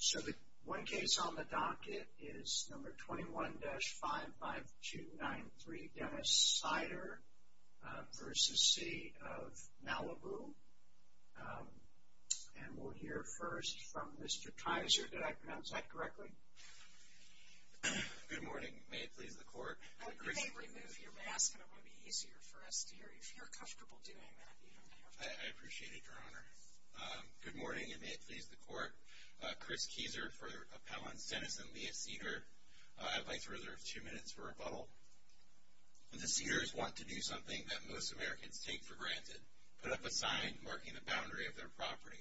So the one case on the docket is number 21-55293 Dennis Seider v. City of Malibu. And we'll hear first from Mr. Kaiser. Did I pronounce that correctly? Good morning. May it please the Court. You may remove your mask and it will be easier for us to hear you. If you're comfortable doing that, you don't have to. I appreciate it, Your Honor. Good morning, and may it please the Court. Chris Kieser for Appellants Dennis and Leah Seider. I'd like to reserve two minutes for rebuttal. The Seiders want to do something that most Americans take for granted, put up a sign marking the boundary of their property.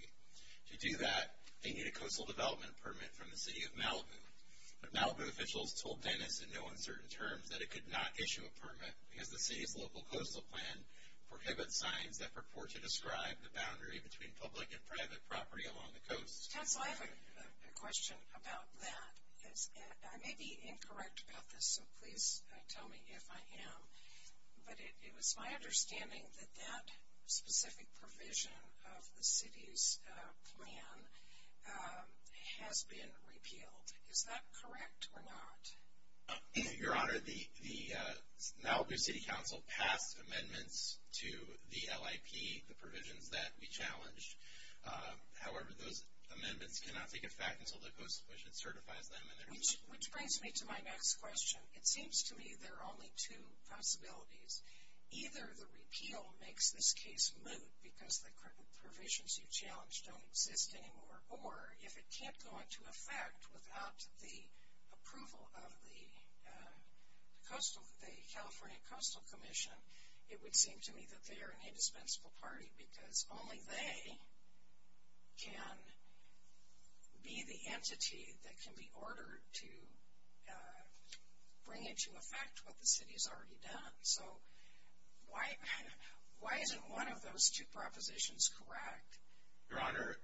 To do that, they need a coastal development permit from the City of Malibu. Malibu officials told Dennis in no uncertain terms that it could not issue a permit between public and private property along the coast. Counsel, I have a question about that. I may be incorrect about this, so please tell me if I am. But it was my understanding that that specific provision of the city's plan has been repealed. Is that correct or not? Your Honor, the Malibu City Council passed amendments to the LIP, the provisions that we challenged. However, those amendments cannot take effect until the Coastal Commission certifies them. Which brings me to my next question. It seems to me there are only two possibilities. Either the repeal makes this case moot because the provisions you challenged don't exist anymore, or if it can't go into effect without the approval of the California Coastal Commission, it would seem to me that they are an indispensable party because only they can be the entity that can be ordered to bring into effect what the city has already done. So why isn't one of those two propositions correct? Your Honor,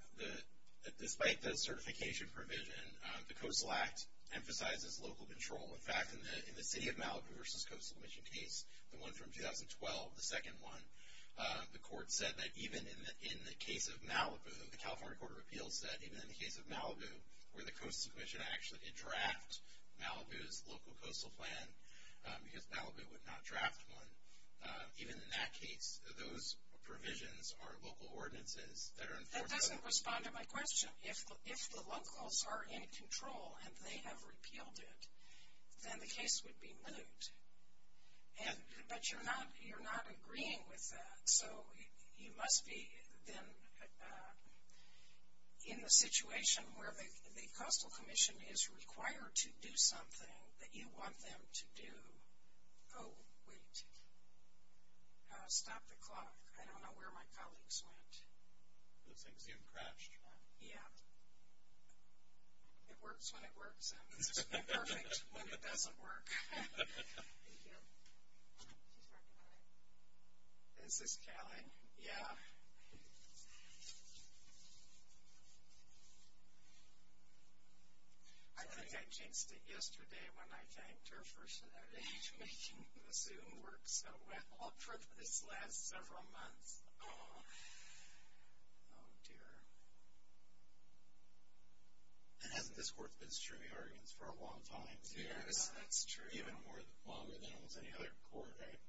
despite the certification provision, the Coastal Act emphasizes local control. In fact, in the City of Malibu v. Coastal Commission case, the one from 2012, the second one, the court said that even in the case of Malibu, the California Court of Appeals said, even in the case of Malibu, where the Coastal Commission actually did draft Malibu's local coastal plan, because Malibu would not draft one, even in that case, those provisions are local ordinances that are enforceable. That doesn't respond to my question. If the locals are in control and they have repealed it, then the case would be moot. But you're not agreeing with that. So you must be then in the situation where the Coastal Commission is required to do something that you want them to do. Oh, wait. Stop the clock. I don't know where my colleagues went. It looks like Zoom crashed. Yeah. It works when it works, and it's not perfect when it doesn't work. Thank you. She's working on it. Is this Kelly? Yeah. I think I jinxed it yesterday when I thanked her for making the Zoom work so well for this last several months. Oh, dear. And hasn't this court been streaming arguments for a long time? Yes, that's true. Even longer than it was any other court, right?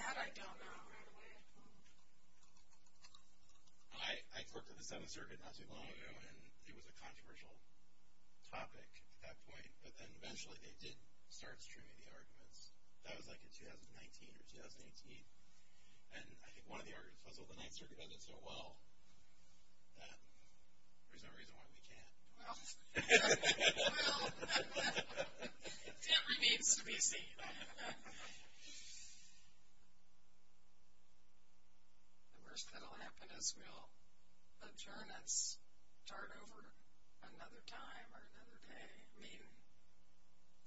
That I don't know right away. I worked at the Seventh Circuit not too long ago, and it was a controversial topic at that point. But then eventually they did start streaming the arguments. That was like in 2019 or 2018. And I think one of the arguments was, well, the Ninth Circuit does it so well that there's no reason why we can't. Well, it remains to be seen. The worst that will happen is we'll adjourn. Let's start over another time or another day. I mean,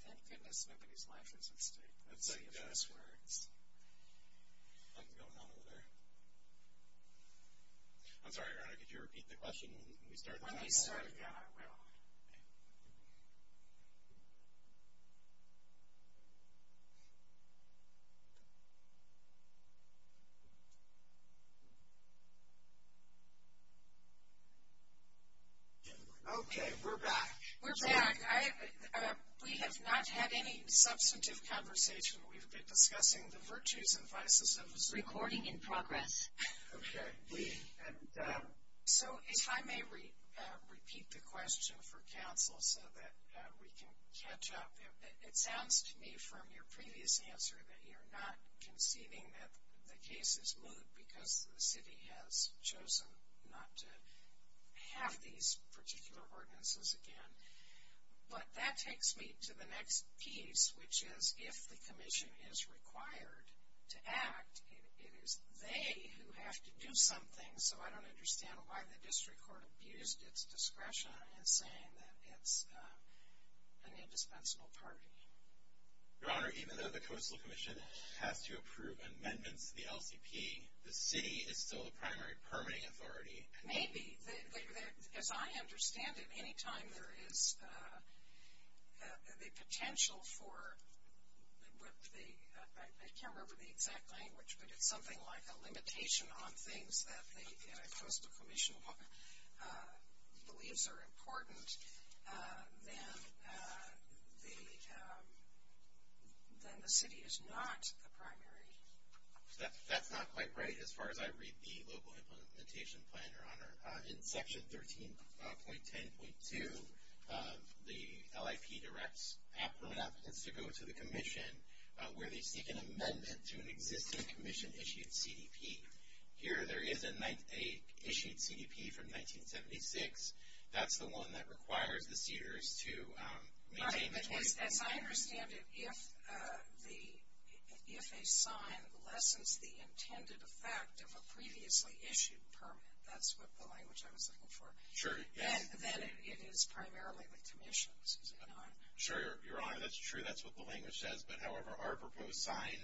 thank goodness nobody's life is at stake. Let's see if this works. Nothing going on over there. I'm sorry, Ernie, could you repeat the question? When we start again, I will. Okay. Okay, we're back. We're back. We have not had any substantive conversation. We've been discussing the virtues and vices of the Supreme Court. Recording in progress. Okay. So if I may repeat the question for counsel so that we can catch up. It sounds to me from your previous answer that you're not conceding that the case is moot because the city has chosen not to have these particular ordinances again. But that takes me to the next piece, which is if the commission is required to act, it is they who have to do something. So I don't understand why the district court abused its discretion in saying that it's an indispensable party. Your Honor, even though the Coastal Commission has to approve amendments to the LCP, the city is still the primary permitting authority. Maybe. As I understand it, any time there is the potential for what the ‑‑ I can't remember the exact language, but it's something like a limitation on things that the Coastal Commission believes are important, then the city is not the primary. That's not quite right. As far as I read the Local Implementation Plan, Your Honor, in Section 13.10.2, the LIP directs permanent applicants to go to the commission where they seek an amendment to an existing commission issued CDP. Here there is an issued CDP from 1976. That's the one that requires the cedars to maintain between ‑‑ As I understand it, if a sign lessens the intended effect of a previously issued permit, that's what the language I was looking for, then it is primarily the commission, is it not? Sure, Your Honor. That's true. That's what the language says. But, however, our proposed sign,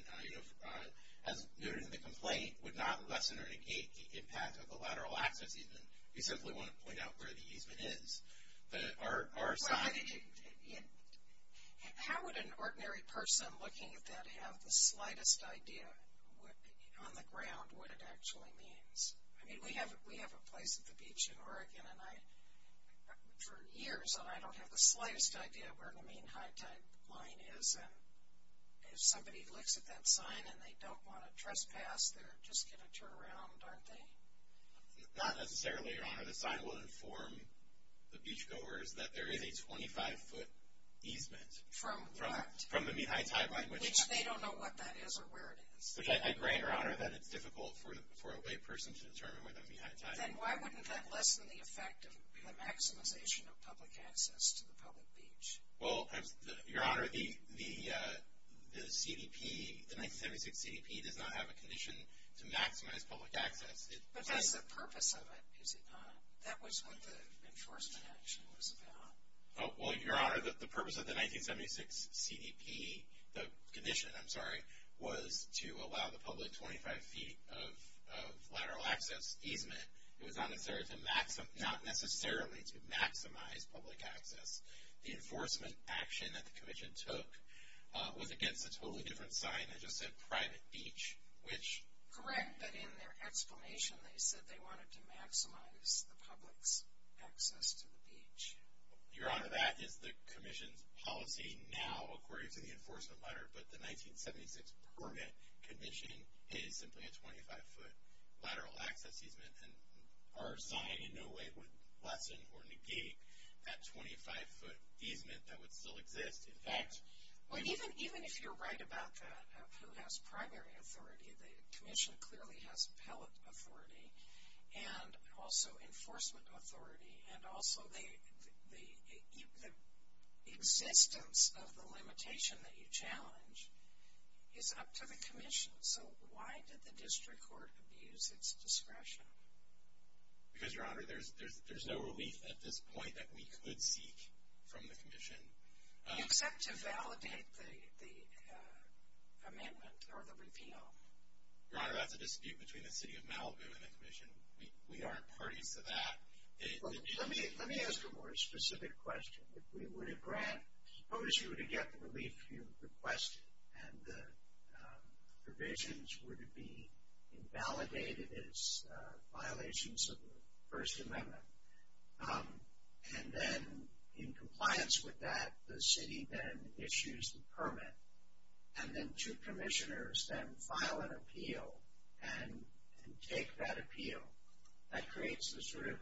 as noted in the complaint, would not lessen or negate the impact of the lateral access easement. We simply want to point out where the easement is. How would an ordinary person looking at that have the slightest idea on the ground what it actually means? I mean, we have a place at the beach in Oregon, and for years I don't have the slightest idea where the main high tide line is. And if somebody looks at that sign and they don't want to trespass, they're just going to turn around, aren't they? Not necessarily, Your Honor. The sign will inform the beach goers that there is a 25‑foot easement. From what? From the mean high tide line. Which they don't know what that is or where it is. Which I grant, Your Honor, that it's difficult for a layperson to determine where the mean high tide line is. Then why wouldn't that lessen the effect of the maximization of public access to the public beach? Well, Your Honor, the CDP, the 1976 CDP, does not have a condition to maximize public access. But that's the purpose of it, is it not? That was what the enforcement action was about. Well, Your Honor, the purpose of the 1976 CDP, the condition, I'm sorry, was to allow the public 25 feet of lateral access easement. It was not necessarily to maximize public access. The enforcement action that the commission took was against a totally different sign that just said private beach. Which? Correct. But in their explanation they said they wanted to maximize the public's access to the beach. Your Honor, that is the commission's policy now according to the enforcement letter. But the 1976 permit condition is simply a 25‑foot lateral access easement. And our sign in no way would lessen or negate that 25‑foot easement that would still exist. Even if you're right about that, who has primary authority? The commission clearly has appellate authority and also enforcement authority. And also the existence of the limitation that you challenge is up to the commission. So why did the district court abuse its discretion? Because, Your Honor, there's no relief at this point that we could seek from the commission. Do you accept to validate the amendment or the repeal? Your Honor, that's a dispute between the City of Malibu and the commission. We aren't parties to that. Let me ask a more specific question. If we were to grant, suppose you were to get the relief you requested and the provisions were to be invalidated as violations of the First Amendment, and then in compliance with that, the city then issues the permit, and then two commissioners then file an appeal and take that appeal, that creates the sort of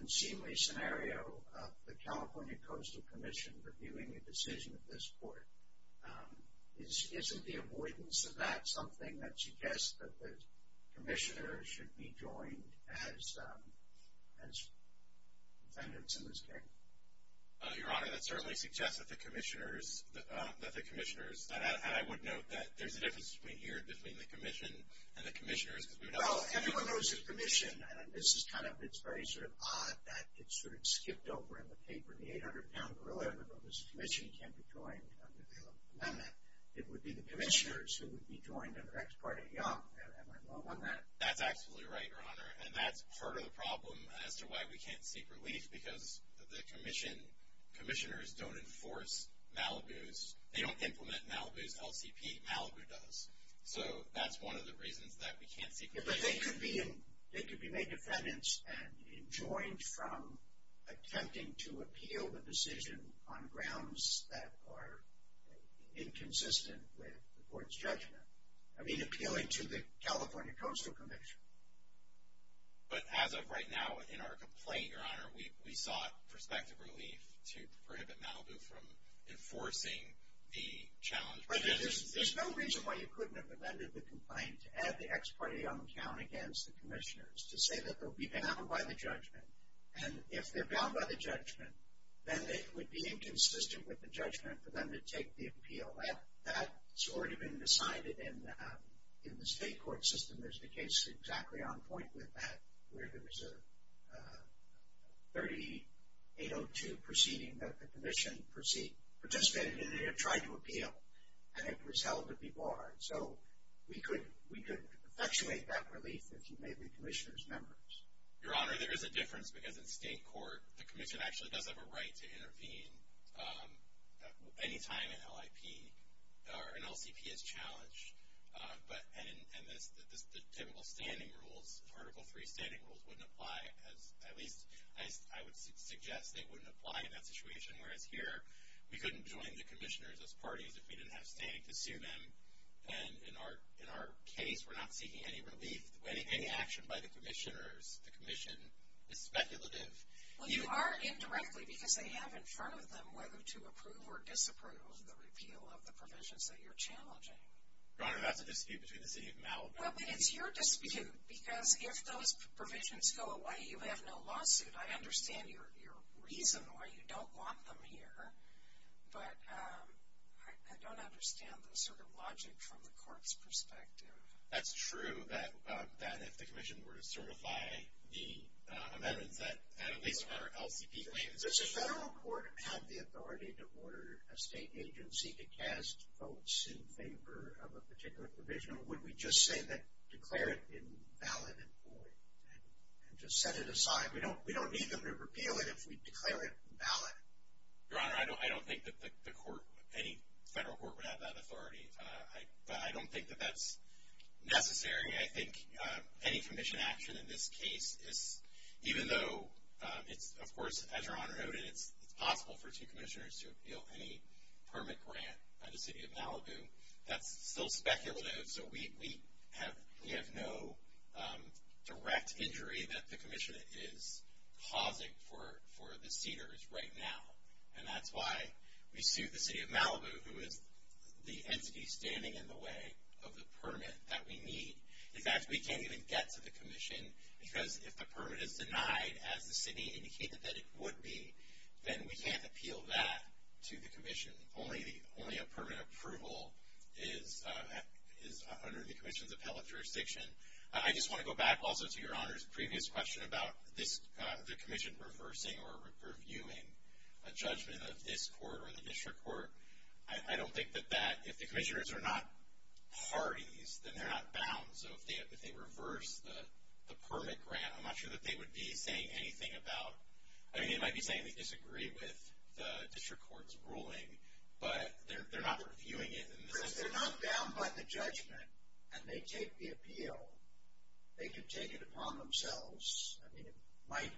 unseemly scenario of the California Coastal Commission reviewing the decision of this court. Isn't the avoidance of that something that suggests that the commissioner should be joined as defendants in this case? Your Honor, that certainly suggests that the commissioners, and I would note that there's a difference between here and between the commission and the commissioners. Well, everyone knows the commission. This is kind of, it's very sort of odd that it's sort of skipped over in the paper. In the 800-pound gorilla, everyone knows the commission can't be joined under the amendment. It would be the commissioners who would be joined under Ex parte Young. Am I wrong on that? That's absolutely right, Your Honor, and that's part of the problem as to why we can't seek relief because the commissioners don't enforce Malibu's, they don't implement Malibu's LCP. Malibu does. So that's one of the reasons that we can't seek relief. But they could be made defendants and joined from attempting to appeal the decision on grounds that are inconsistent with the court's judgment. I mean appealing to the California Coastal Commission. But as of right now in our complaint, Your Honor, we sought prospective relief to prohibit Malibu from enforcing the challenge. There's no reason why you couldn't have amended the complaint to add the Ex parte Young count against the commissioners to say that they'll be bound by the judgment. And if they're bound by the judgment, then it would be inconsistent with the judgment for them to take the appeal. That's already been decided in the state court system. There's a case exactly on point with that where there was a 3802 proceeding that the commission participated in and tried to appeal, and it was held to be barred. So we could effectuate that relief if you made the commissioners members. Your Honor, there is a difference because in state court the commission actually does have a right to intervene any time an LIP or an LCP is challenged. And the typical standing rules, Article III standing rules, wouldn't apply. At least I would suggest they wouldn't apply in that situation. Whereas here, we couldn't join the commissioners as parties if we didn't have standing to sue them. And in our case, we're not seeking any action by the commissioners. The commission is speculative. Well, you are indirectly because they have in front of them whether to approve or disapprove of the repeal of the provisions that you're challenging. Your Honor, that's a dispute between the city of Malibu. Well, but it's your dispute because if those provisions go away, you have no lawsuit. I understand your reason why you don't want them here. But I don't understand the sort of logic from the court's perspective. That's true, that if the commission were to certify the amendments, that at least our LCP claims it's true. Does the federal court have the authority to order a state agency to cast votes in favor of a particular provision? Or would we just say that, declare it invalid and void and just set it aside? We don't need them to repeal it if we declare it invalid. Your Honor, I don't think that the court, any federal court, would have that authority. But I don't think that that's necessary. I think any commission action in this case is, even though it's, of course, as Your Honor noted, it's possible for two commissioners to repeal any permit grant by the city of Malibu, that's still speculative. So we have no direct injury that the commission is causing for the cedars right now. And that's why we suit the city of Malibu, who is the entity standing in the way of the permit that we need. In fact, we can't even get to the commission, because if the permit is denied as the city indicated that it would be, then we can't appeal that to the commission. Only a permit approval is under the commission's appellate jurisdiction. I just want to go back also to Your Honor's previous question about the commission reversing or reviewing a judgment of this court or the district court. I don't think that that, if the commissioners are not parties, then they're not bound. So if they reverse the permit grant, I'm not sure that they would be saying anything about, I mean, they might be saying they disagree with the district court's ruling, but they're not reviewing it. If they're not bound by the judgment and they take the appeal, they can take it upon themselves. I mean, it might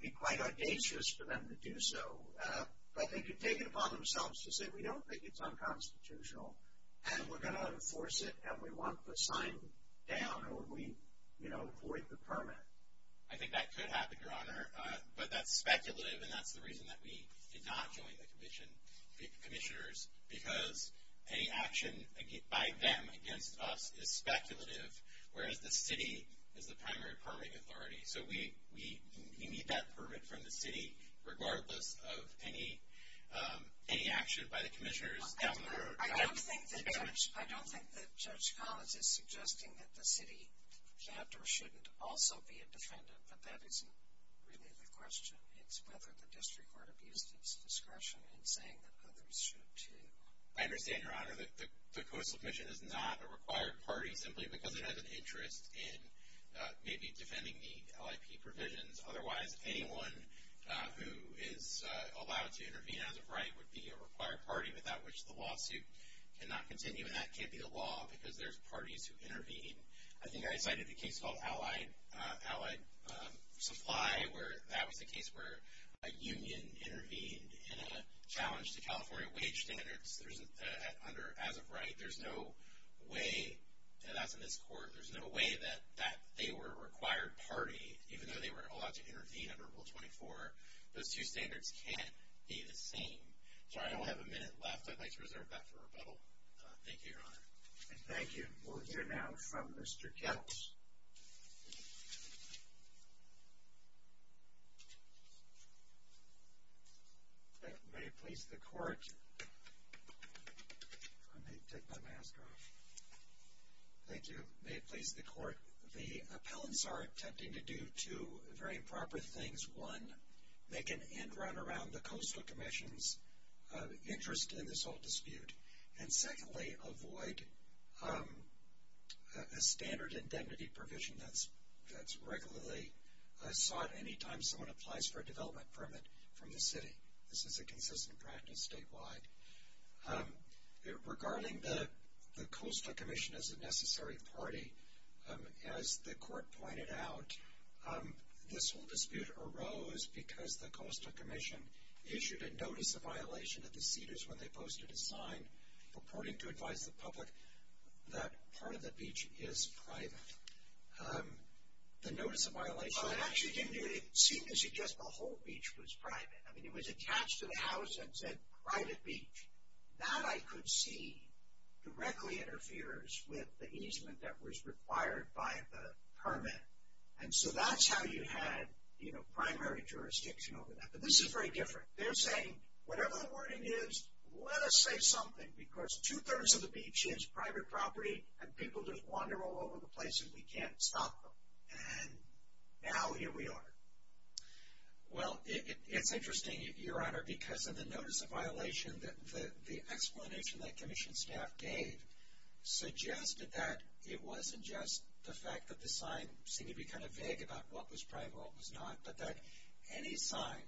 be quite audacious for them to do so, but they can take it upon themselves to say we don't think it's unconstitutional and we're going to enforce it and we want the sign down or we void the permit. I think that could happen, Your Honor, but that's speculative, and that's the reason that we did not join the commissioners, because any action by them against us is speculative, whereas the city is the primary permitting authority. So we need that permit from the city regardless of any action by the commissioners down the road. I don't think that Judge Collins is suggesting that the city can't or shouldn't also be a defendant, but that isn't really the question. It's whether the district court abused its discretion in saying that others should too. I understand, Your Honor, that the Coastal Commission is not a required party simply because it has an interest in maybe defending the LIP provisions. Otherwise, anyone who is allowed to intervene as a right would be a required party, without which the lawsuit cannot continue, and that can't be the law, because there's parties who intervene. I think I cited a case called Allied Supply where that was a case where a union intervened in a challenge to California wage standards as a right. There's no way that they were a required party, even though they were allowed to intervene under Rule 24. Those two standards can't be the same. Sorry, I only have a minute left. I'd like to reserve that for rebuttal. Thank you, Your Honor. Thank you. We'll hear now from Mr. Kettles. May it please the court. Let me take my mask off. Thank you. May it please the court. The appellants are attempting to do two very improper things. One, make an end run around the Coastal Commission's interest in this whole dispute, and secondly, avoid a standard indemnity provision that's regularly sought anytime someone applies for a development permit from the city. This is a consistent practice statewide. Regarding the Coastal Commission as a necessary party, as the court pointed out, this whole dispute arose because the Coastal Commission issued a notice of violation of the cedars when they posted a sign purporting to advise the public that part of the beach is private. The notice of violation- Well, it actually didn't seem to suggest the whole beach was private. I mean, it was attached to the house and said private beach. That, I could see, directly interferes with the easement that was required by the permit. And so that's how you had, you know, primary jurisdiction over that. But this is very different. They're saying, whatever the wording is, let us say something because two-thirds of the beach is private property and people just wander all over the place and we can't stop them. And now here we are. Well, it's interesting, Your Honor, because in the notice of violation, the explanation that commission staff gave suggested that it wasn't just the fact that the sign seemed to be kind of vague about what was private and what was not, but that any sign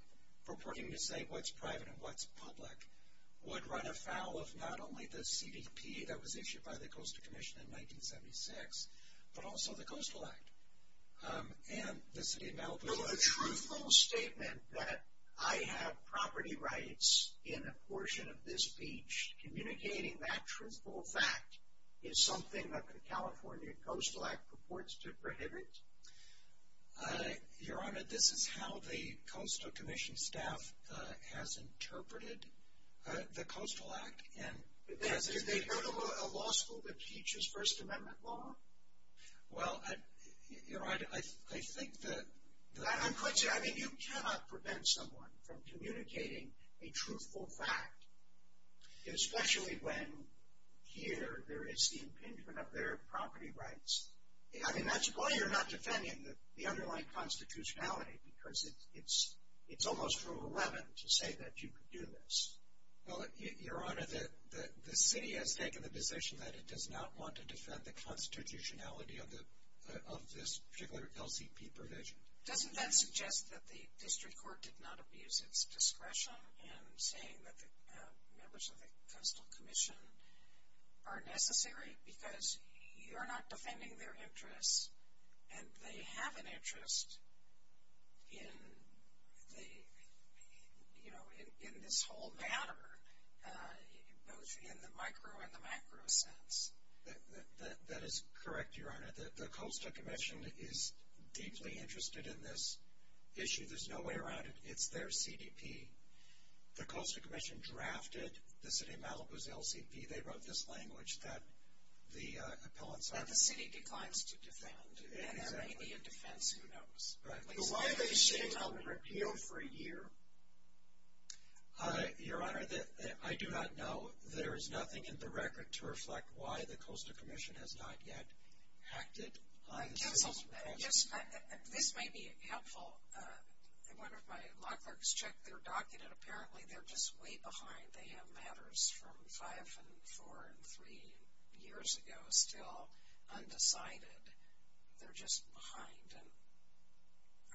purporting to say what's private and what's public would run afoul of not only the CDP that was issued by the Coastal Commission in 1976, but also the Coastal Act. And the city of Malibu- So a truthful statement that I have property rights in a portion of this beach, communicating that truthful fact is something that the California Coastal Act purports to prohibit? Your Honor, this is how the Coastal Commission staff has interpreted the Coastal Act. Do they go to a law school that teaches First Amendment law? Well, Your Honor, I think that I'm quite serious. I mean, you cannot prevent someone from communicating a truthful fact, especially when here there is the impingement of their property rights. I mean, that's why you're not defending the underlying constitutionality, because it's almost Rule 11 to say that you could do this. Well, Your Honor, the city has taken the position that it does not want to defend the constitutionality of this particular LCP provision. Doesn't that suggest that the district court did not abuse its discretion in saying that the members of the Coastal Commission are necessary, because you're not defending their interests, and they have an interest in this whole matter, both in the micro and the macro sense? That is correct, Your Honor. The Coastal Commission is deeply interested in this issue. There's no way around it. It's their CDP. The Coastal Commission drafted the city of Malibu's LCP. They wrote this language that the appellants are. The city declines to defend, and there may be a defense. Who knows? Right. Why have they stayed on repeal for a year? Your Honor, I do not know. There is nothing in the record to reflect why the Coastal Commission has not yet acted on this. This might be helpful. One of my law clerks checked their docket, and apparently they're just way behind. They have matters from five and four and three years ago still undecided. They're just behind, and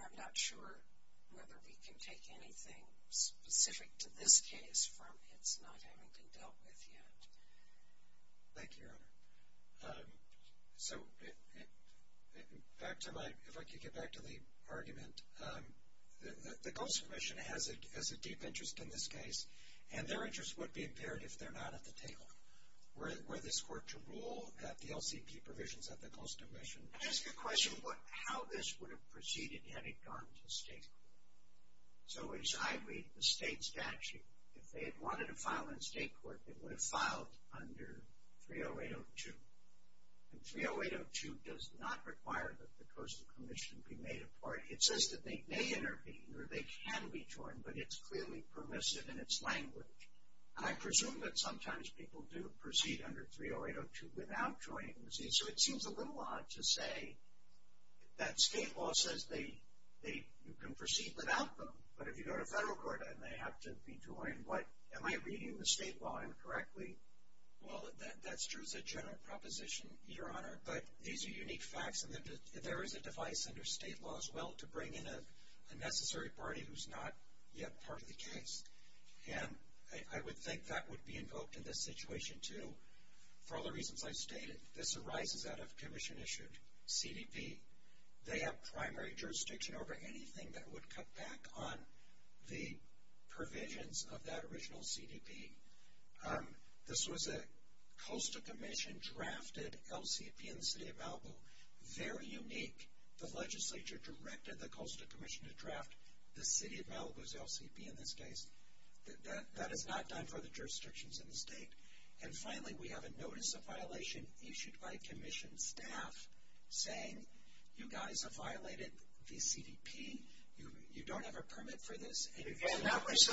I'm not sure whether we can take anything specific to this case from its not having been dealt with yet. Thank you, Your Honor. So if I could get back to the argument, the Coastal Commission has a deep interest in this case, and their interest would be impaired if they're not at the table. Were this court to rule that the LCP provisions of the Coastal Commission I just have a question about how this would have proceeded had it gone to state court. So as I read the state statute, if they had wanted to file in state court, they would have filed under 30802. And 30802 does not require that the Coastal Commission be made a party. It says that they may intervene or they can be joined, but it's clearly permissive in its language. And I presume that sometimes people do proceed under 30802 without joining the state. So it seems a little odd to say that state law says you can proceed without them, but if you go to federal court and they have to be joined, am I reading the state law incorrectly? Well, that's true as a general proposition, Your Honor, but these are unique facts. And there is a device under state law as well to bring in a necessary party who's not yet part of the case. And I would think that would be invoked in this situation, too, for all the reasons I've stated. This arises out of commission-issued CDP. They have primary jurisdiction over anything that would cut back on the provisions of that original CDP. This was a Coastal Commission-drafted LCP in the city of Malibu. Very unique. The legislature directed the Coastal Commission to draft the city of Malibu's LCP in this case. That is not done for the jurisdictions in the state. And finally, we have a notice of violation issued by commission staff saying, You guys have violated the CDP. You don't have a permit for this. Again, that was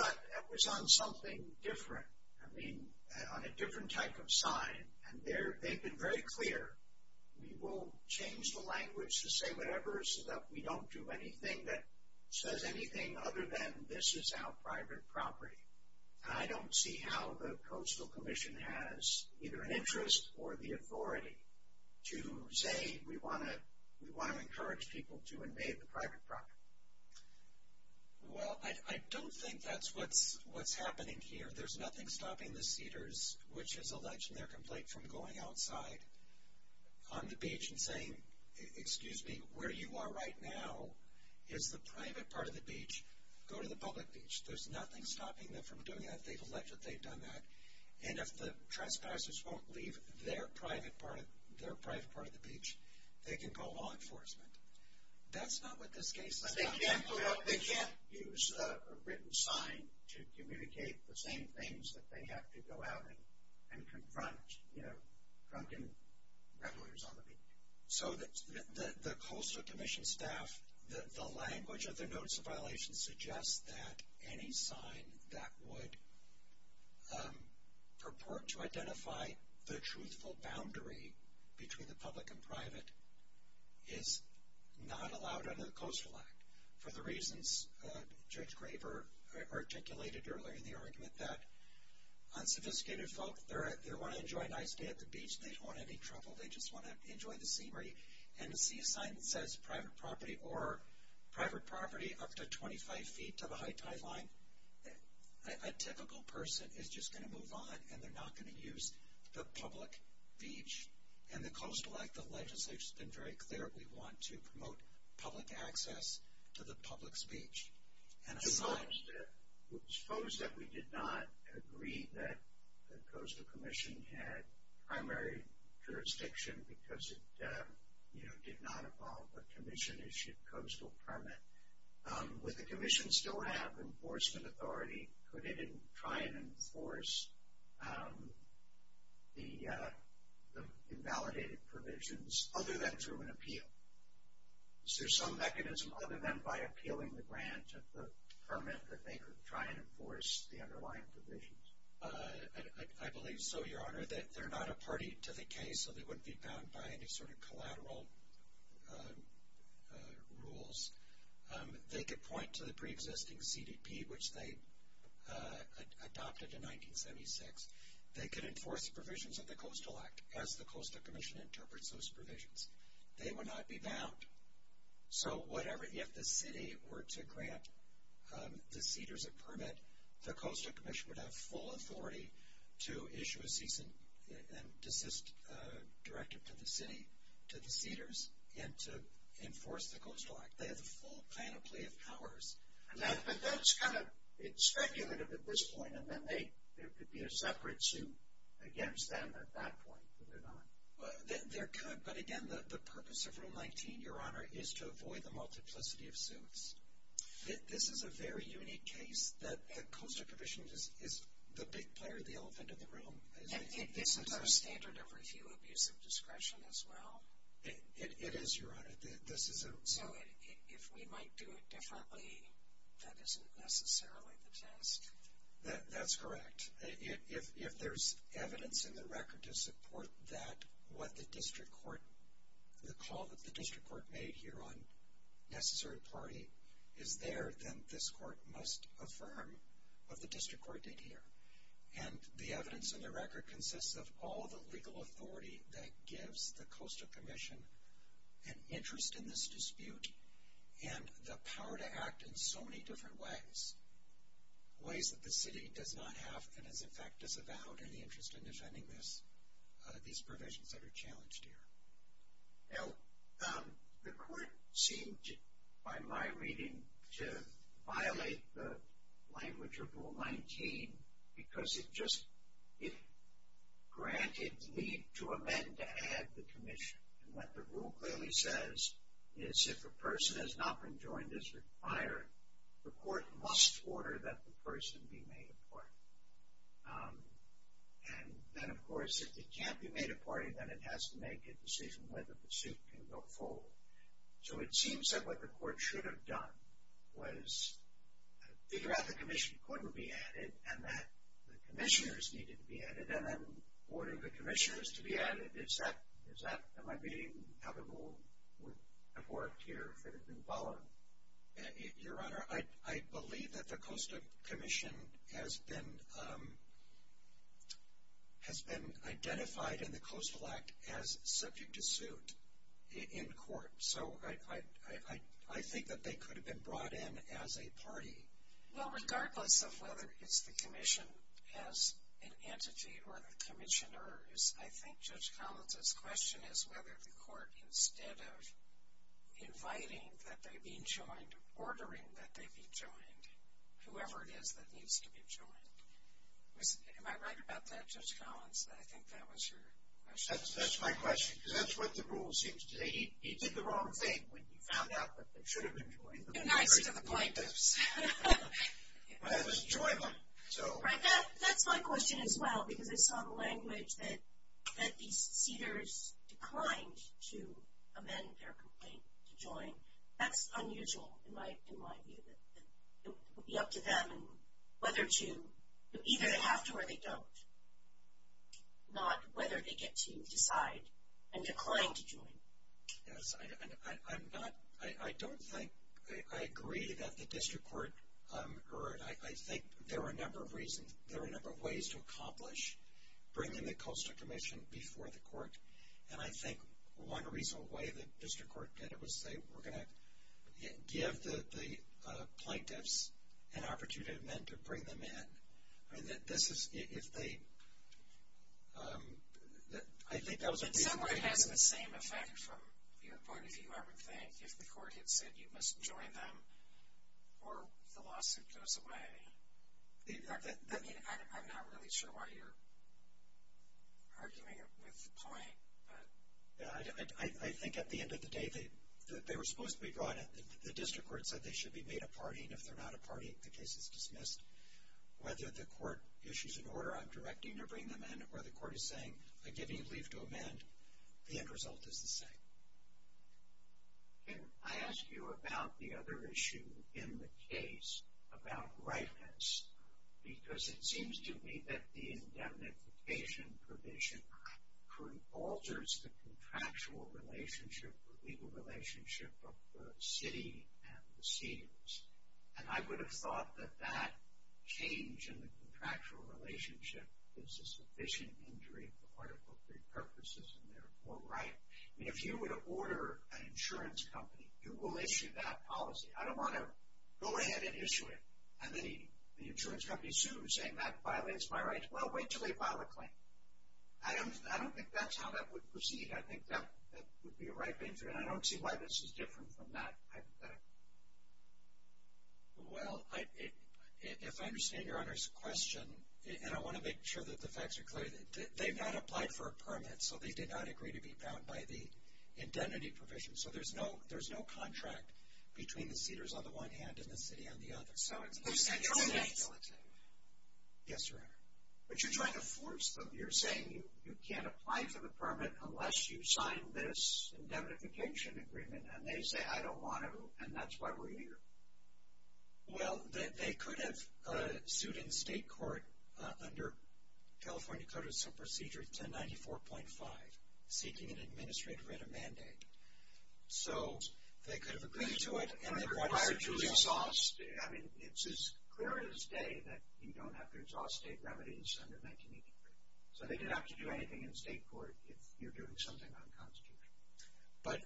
on something different. I mean, on a different type of sign. And they've been very clear. We will change the language to say whatever so that we don't do anything that says anything other than, This is our private property. And I don't see how the Coastal Commission has either an interest or the authority to say, We want to encourage people to invade the private property. Well, I don't think that's what's happening here. There's nothing stopping the CEDARS, which has alleged in their complaint, from going outside on the beach and saying, Excuse me, where you are right now is the private part of the beach. Go to the public beach. There's nothing stopping them from doing that. They've alleged that they've done that. And if the trespassers won't leave their private part of the beach, they can call law enforcement. That's not what this case is about. They can't use a written sign to communicate the same things that they have to go out and confront, you know, drunken revelers on the beach. So the Coastal Commission staff, the language of their notice of violation, suggests that any sign that would purport to identify the truthful boundary between the public and private is not allowed under the Coastal Act. For the reasons Judge Graver articulated earlier in the argument, that unsophisticated folk, they want to enjoy a nice day at the beach. They don't want any trouble. They just want to enjoy the scenery. And to see a sign that says private property or private property up to 25 feet to the high-tide line, a typical person is just going to move on, and they're not going to use the public beach. And the Coastal Act, the legislature has been very clear. We want to promote public access to the public's beach. And I suppose that we did not agree that the Coastal Commission had primary jurisdiction because it, you know, did not involve a commission-issued coastal permit. Would the commission still have enforcement authority? Could it try and enforce the invalidated provisions other than through an appeal? Is there some mechanism other than by appealing the grant of the permit that they could try and enforce the underlying provisions? I believe so, Your Honor, that they're not a party to the case, so they wouldn't be bound by any sort of collateral rules. They could point to the preexisting CDP, which they adopted in 1976. They could enforce provisions of the Coastal Act as the Coastal Commission interprets those provisions. They would not be bound. So if the city were to grant the CEDARS a permit, the Coastal Commission would have full authority to issue a cease and desist directive to the city, to the CEDARS, and to enforce the Coastal Act. They have the full panoply of powers. But that's kind of speculative at this point, and then there could be a separate suit against them at that point, could there not? There could, but again, the purpose of Room 19, Your Honor, is to avoid the multiplicity of suits. This is a very unique case that the Coastal Commission is the big player, the elephant in the room. Isn't there a standard of review of use of discretion as well? It is, Your Honor. So if we might do it differently, that isn't necessarily the test? That's correct. If there's evidence in the record to support that what the district court, the call that the district court made here on necessary party is there, then this court must affirm what the district court did here. And the evidence in the record consists of all the legal authority that gives the Coastal Commission an interest in this dispute and the power to act in so many different ways, ways that the city does not have and is, in fact, disavowed in the interest in defending this, these provisions that are challenged here. Now, the court seemed, by my reading, to violate the language of Rule 19 because it just, it granted leave to amend to add the commission. And what the rule clearly says is if a person has not been joined as required, the court must order that the person be made a party. And then, of course, if they can't be made a party, then it has to make a decision whether the suit can go forward. So it seems that what the court should have done was figure out the commission couldn't be added and that the commissioners needed to be added and then order the commissioners to be added. Is that, in my reading, how the rule would have worked here if it had been followed? Your Honor, I believe that the Coastal Commission has been identified in the Coastal Act as subject to suit in court. So I think that they could have been brought in as a party. Well, regardless of whether it's the commission as an entity or the commissioners, I think Judge Collins' question is whether the court, instead of inviting that they be joined, ordering that they be joined, whoever it is that needs to be joined. Am I right about that, Judge Collins? I think that was your question. That's my question because that's what the rule seems to say. He did the wrong thing when he found out that they should have been joined. Nice to the plaintiffs. But it was enjoyment. That's my question as well because I saw the language that these cedars declined to amend their complaint to join. That's unusual in my view. It would be up to them whether to, either they have to or they don't, not whether they get to decide and decline to join. Yes, I don't think I agree that the district court, or I think there are a number of reasons, there are a number of ways to accomplish bringing the Coastal Commission before the court. And I think one reasonable way the district court did it was say, we're going to give the plaintiffs an opportunity then to bring them in. This is, if they, I think that was a reasonable way. It somewhat has the same effect from your point, if you ever think, if the court had said you must join them or the lawsuit goes away. I mean, I'm not really sure why you're arguing it with the plaintiff. I think at the end of the day, they were supposed to be brought in. The district court said they should be made a party, and if they're not a party, the case is dismissed. Whether the court issues an order on directing to bring them in or the court is saying, I give you leave to amend, the end result is the same. Can I ask you about the other issue in the case about rightness? Because it seems to me that the indemnification provision alters the contractual relationship, the legal relationship of the city and the seniors. And I would have thought that that change in the contractual relationship is a sufficient injury for Article III purposes, and therefore right. I mean, if you were to order an insurance company, you will issue that policy. I don't want to go ahead and issue it, and then the insurance company sues, saying that violates my rights. Well, wait until they file a claim. I don't think that's how that would proceed. I think that would be a ripe injury, and I don't see why this is different from that. Well, if I understand Your Honor's question, and I want to make sure that the facts are clear, they've not applied for a permit, so they did not agree to be bound by the indemnity provision. So there's no contract between the seniors on the one hand and the city on the other. So it's a mutual liability. Yes, Your Honor. But you're trying to force them. You're saying you can't apply for the permit unless you sign this indemnification agreement, and they say, I don't want to, and that's why we're here. Well, they could have sued in state court under California Code of Procedure 1094.5, seeking an administrative writ of mandate. So they could have agreed to it, and then required to exhaust. It's as clear as day that you don't have to exhaust state remedies under 1983. So they didn't have to do anything in state court if you're doing something unconstitutional. But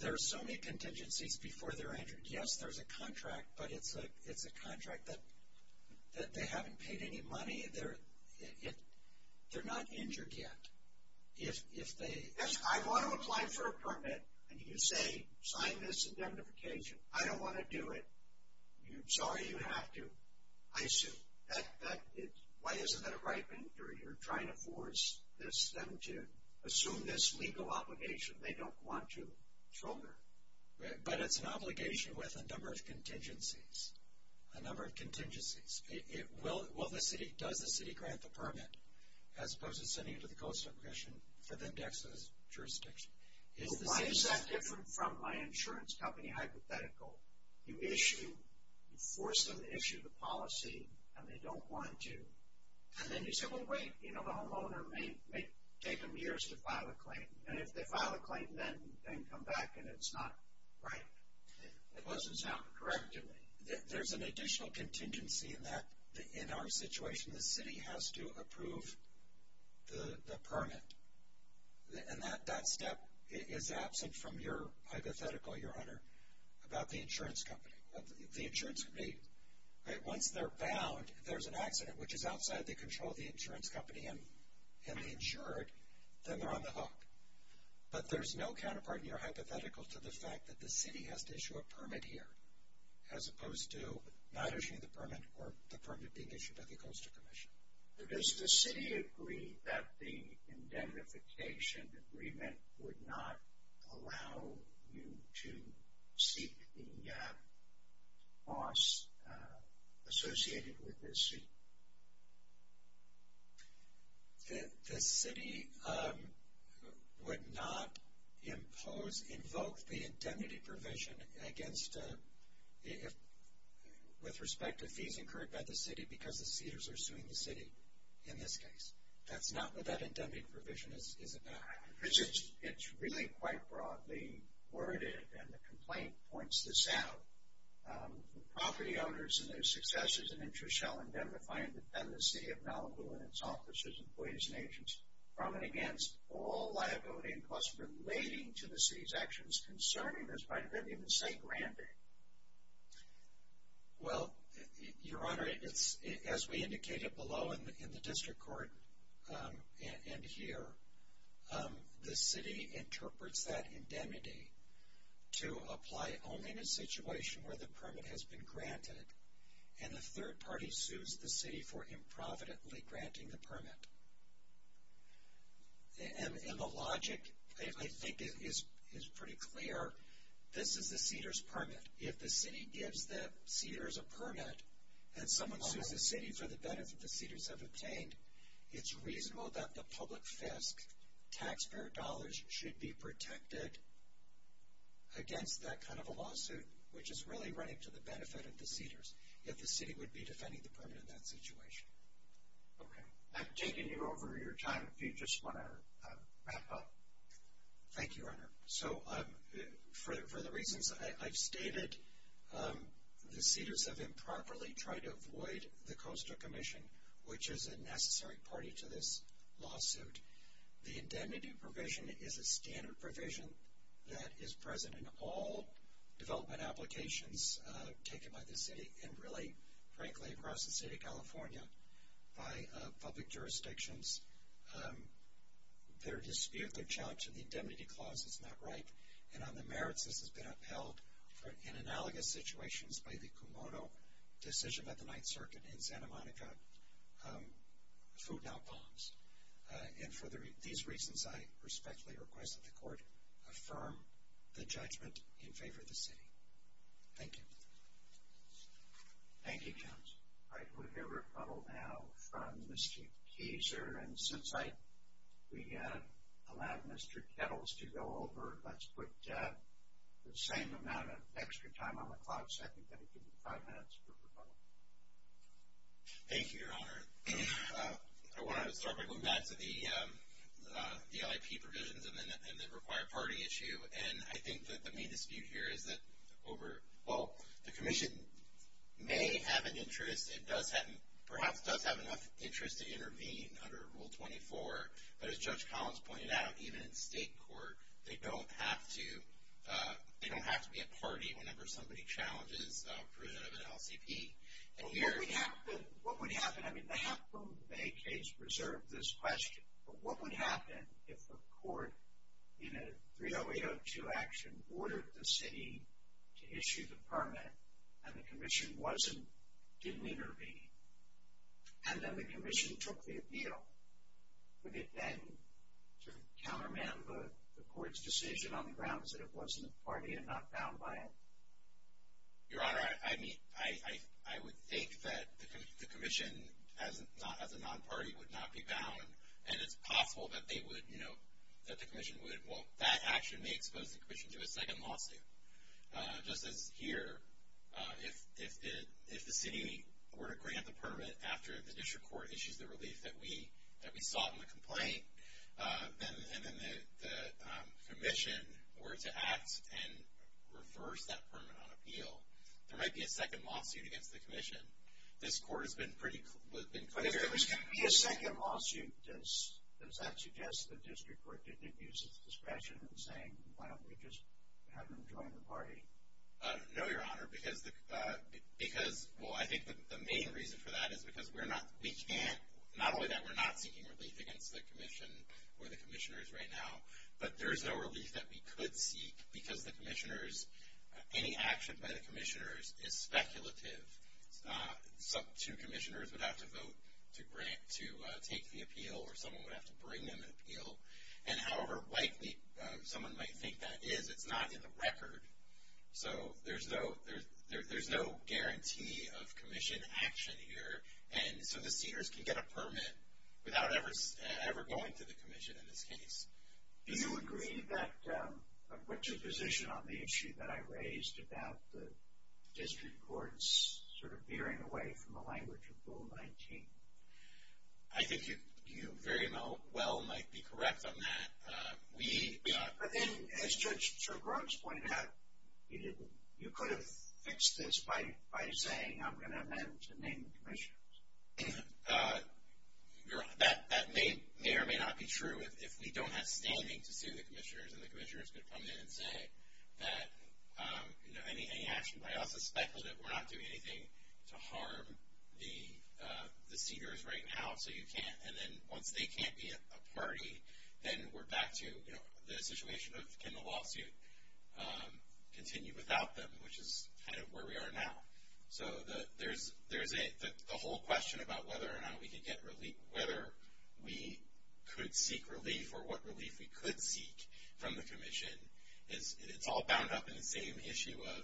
there are so many contingencies before they're injured. Yes, there's a contract, but it's a contract that they haven't paid any money. They're not injured yet. If they say, I want to apply for a permit, and you say sign this indemnification, I don't want to do it, sorry, you have to, I assume. Why isn't that a right thing? You're trying to force them to assume this legal obligation they don't want to shoulder. But it's an obligation with a number of contingencies, a number of contingencies. Does the city grant the permit as opposed to sending it to the Coastal Commission for them to access jurisdiction? Why is that different from my insurance company hypothetical? You issue, you force them to issue the policy, and they don't want to. And then you say, well, wait, the homeowner may take them years to file a claim. And if they file a claim, then come back and it's not right. It doesn't sound correct to me. There's an additional contingency in our situation. The city has to approve the permit. And that step is absent from your hypothetical, Your Honor, about the insurance company. Once they're bound, if there's an accident which is outside the control of the insurance company and they insure it, then they're on the hook. But there's no counterpart in your hypothetical to the fact that the city has to issue a permit here as opposed to not issuing the permit or the permit being issued by the Coastal Commission. Does the city agree that the indemnification agreement would not allow you to seek the costs associated with this? The city would not impose, invoke the indemnity provision against, with respect to fees incurred by the city because the cedars are suing the city in this case. That's not what that indemnity provision is about. It's really quite broadly worded, and the complaint points this out. The property owners and their successes and interests shall indemnify and defend the city of Malibu and its offices, employees, and agents from and against all liability and costs relating to the city's actions concerning this property, let alone say granting. Well, Your Honor, as we indicated below in the district court and here, the city interprets that indemnity to apply only in a situation where the permit has been granted and the third party sues the city for improvidently granting the permit. And the logic, I think, is pretty clear. This is the cedars permit. If the city gives the cedars a permit and someone sues the city for the benefit the cedars have obtained, it's reasonable that the public FISC taxpayer dollars should be protected against that kind of a lawsuit, which is really running to the benefit of the cedars, if the city would be defending the permit in that situation. Okay. I've taken you over your time if you just want to wrap up. Thank you, Your Honor. So for the reasons I've stated, the cedars have improperly tried to avoid the Costa Commission, which is a necessary party to this lawsuit. The indemnity provision is a standard provision that is present in all development applications taken by the city and really, frankly, across the state of California by public jurisdictions. Their dispute, their challenge to the indemnity clause is not right, and on the merits this has been upheld in analogous situations by the Kumodo decision at the Ninth Circuit in Santa Monica, food not bombs. And for these reasons, I respectfully request that the court affirm the judgment in favor of the city. Thank you. Thank you, counsel. All right, we'll hear a rebuttal now from Mr. Keeser. And since we allowed Mr. Kettles to go over, let's put the same amount of extra time on the clock, so I think that it will be five minutes for rebuttal. Thank you, Your Honor. I want to start by going back to the VIP provisions and the required party issue. And I think that the main dispute here is that over the commission may have an interest and perhaps does have enough interest to intervene under Rule 24. But as Judge Collins pointed out, even in state court, they don't have to be a party whenever somebody challenges a provision of an LCP. What would happen? I mean, they have from the Bay case reserved this question, but what would happen if the court in a 30802 action ordered the city to issue the permit and the commission didn't intervene and then the commission took the appeal? Would it then sort of counterman the court's decision on the grounds that it wasn't a party and not bound by it? Your Honor, I would think that the commission as a non-party would not be bound, and it's possible that the commission would, well, that action may expose the commission to a second lawsuit. Just as here, if the city were to grant the permit after the district court issues the relief that we sought in the complaint, and then the commission were to act and reverse that permit on appeal, there might be a second lawsuit against the commission. This court has been pretty clear. But if there was going to be a second lawsuit, does that suggest the district court didn't use its discretion in saying, well, we just haven't joined the party? No, Your Honor, because, well, I think the main reason for that is because we're not, we can't, there's no discretion for the commissioners right now. But there's no relief that we could seek because the commissioners, any action by the commissioners is speculative. Two commissioners would have to vote to take the appeal or someone would have to bring them an appeal. And however likely someone might think that is, it's not in the record. So there's no guarantee of commission action here. And so the seniors can get a permit without ever going to the commission in this case. Do you agree that, what's your position on the issue that I raised about the district courts sort of veering away from the language of Rule 19? I think you very well might be correct on that. But then, as Judge Sirgrub's pointed out, you could have fixed this by saying, I'm going to amend to name the commissioners. That may or may not be true if we don't have standing to sue the commissioners and the commissioners could come in and say that, you know, any action by us is speculative. We're not doing anything to harm the seniors right now, so you can't. And then once they can't be a party, then we're back to, you know, the situation of can the lawsuit continue without them, which is kind of where we are now. So there's a whole question about whether or not we could get relief, whether we could seek relief or what relief we could seek from the commission. It's all bound up in the same issue of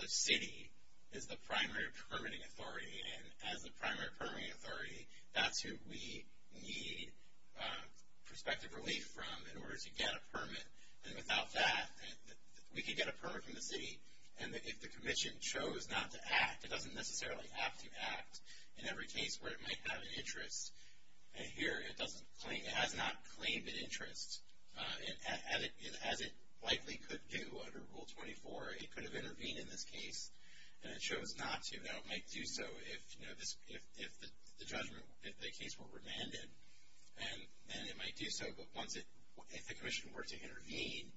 the city is the primary permitting authority. And as the primary permitting authority, that's who we need prospective relief from in order to get a permit. And without that, we could get a permit from the city. And if the commission chose not to act, it doesn't necessarily have to act in every case where it might have an interest. And here it has not claimed an interest. And as it likely could do under Rule 24, it could have intervened in this case, and it chose not to. Now, it might do so if the judgment, if the case were remanded, and then it might do so. But once it, if the commission were to intervene,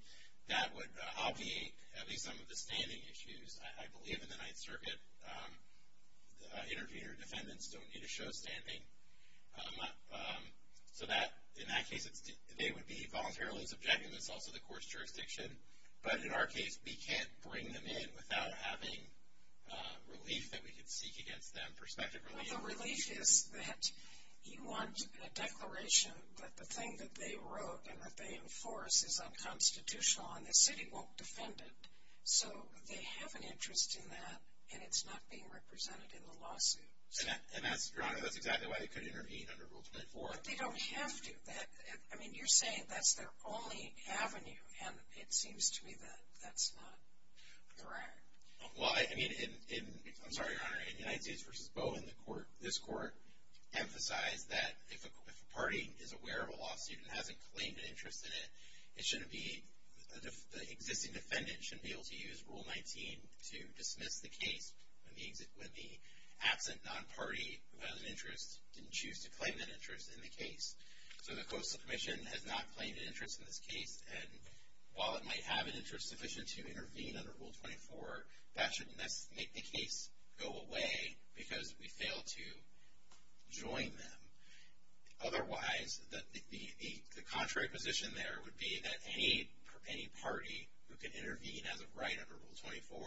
that would obviate at least some of the standing issues. I believe in the Ninth Circuit, intervener defendants don't need to show standing. So that, in that case, they would be voluntarily subject, and that's also the court's jurisdiction. But in our case, we can't bring them in without having relief that we could seek against them, prospective relief. Well, the relief is that you want a declaration that the thing that they wrote and that they enforce is unconstitutional, and the city won't defend it. So they have an interest in that, and it's not being represented in the lawsuit. And that's, Your Honor, that's exactly why they could intervene under Rule 24. But they don't have to. That, I mean, you're saying that's their only avenue, and it seems to me that that's not correct. Well, I mean, in, I'm sorry, Your Honor, in United States v. Bowen, the court, this court, emphasized that if a party is aware of a lawsuit and hasn't claimed an interest in it, it shouldn't be, the existing defendant shouldn't be able to use Rule 19 to dismiss the case when the absent non-party of interest didn't choose to claim an interest in the case. So the Coastal Commission has not claimed an interest in this case, and while it might have an interest sufficient to intervene under Rule 24, that should make the case go away because we failed to join them. Otherwise, the contrary position there would be that any party who can intervene as a right under Rule 24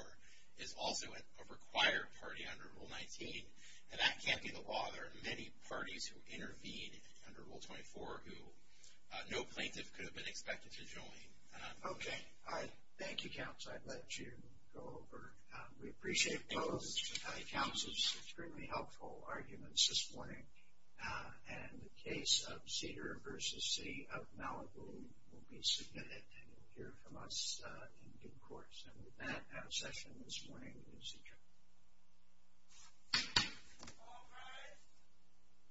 is also a required party under Rule 19, and that can't be the law. There are many parties who intervene under Rule 24 who no plaintiff could have been expected to join. Okay. Thank you, counsel. I'll let you go over. We appreciate both counsel's extremely helpful arguments this morning, and the case of Cedar v. City of Malibu will be submitted, and you'll hear from us in due course. And with that, I have a session this morning. Thank you.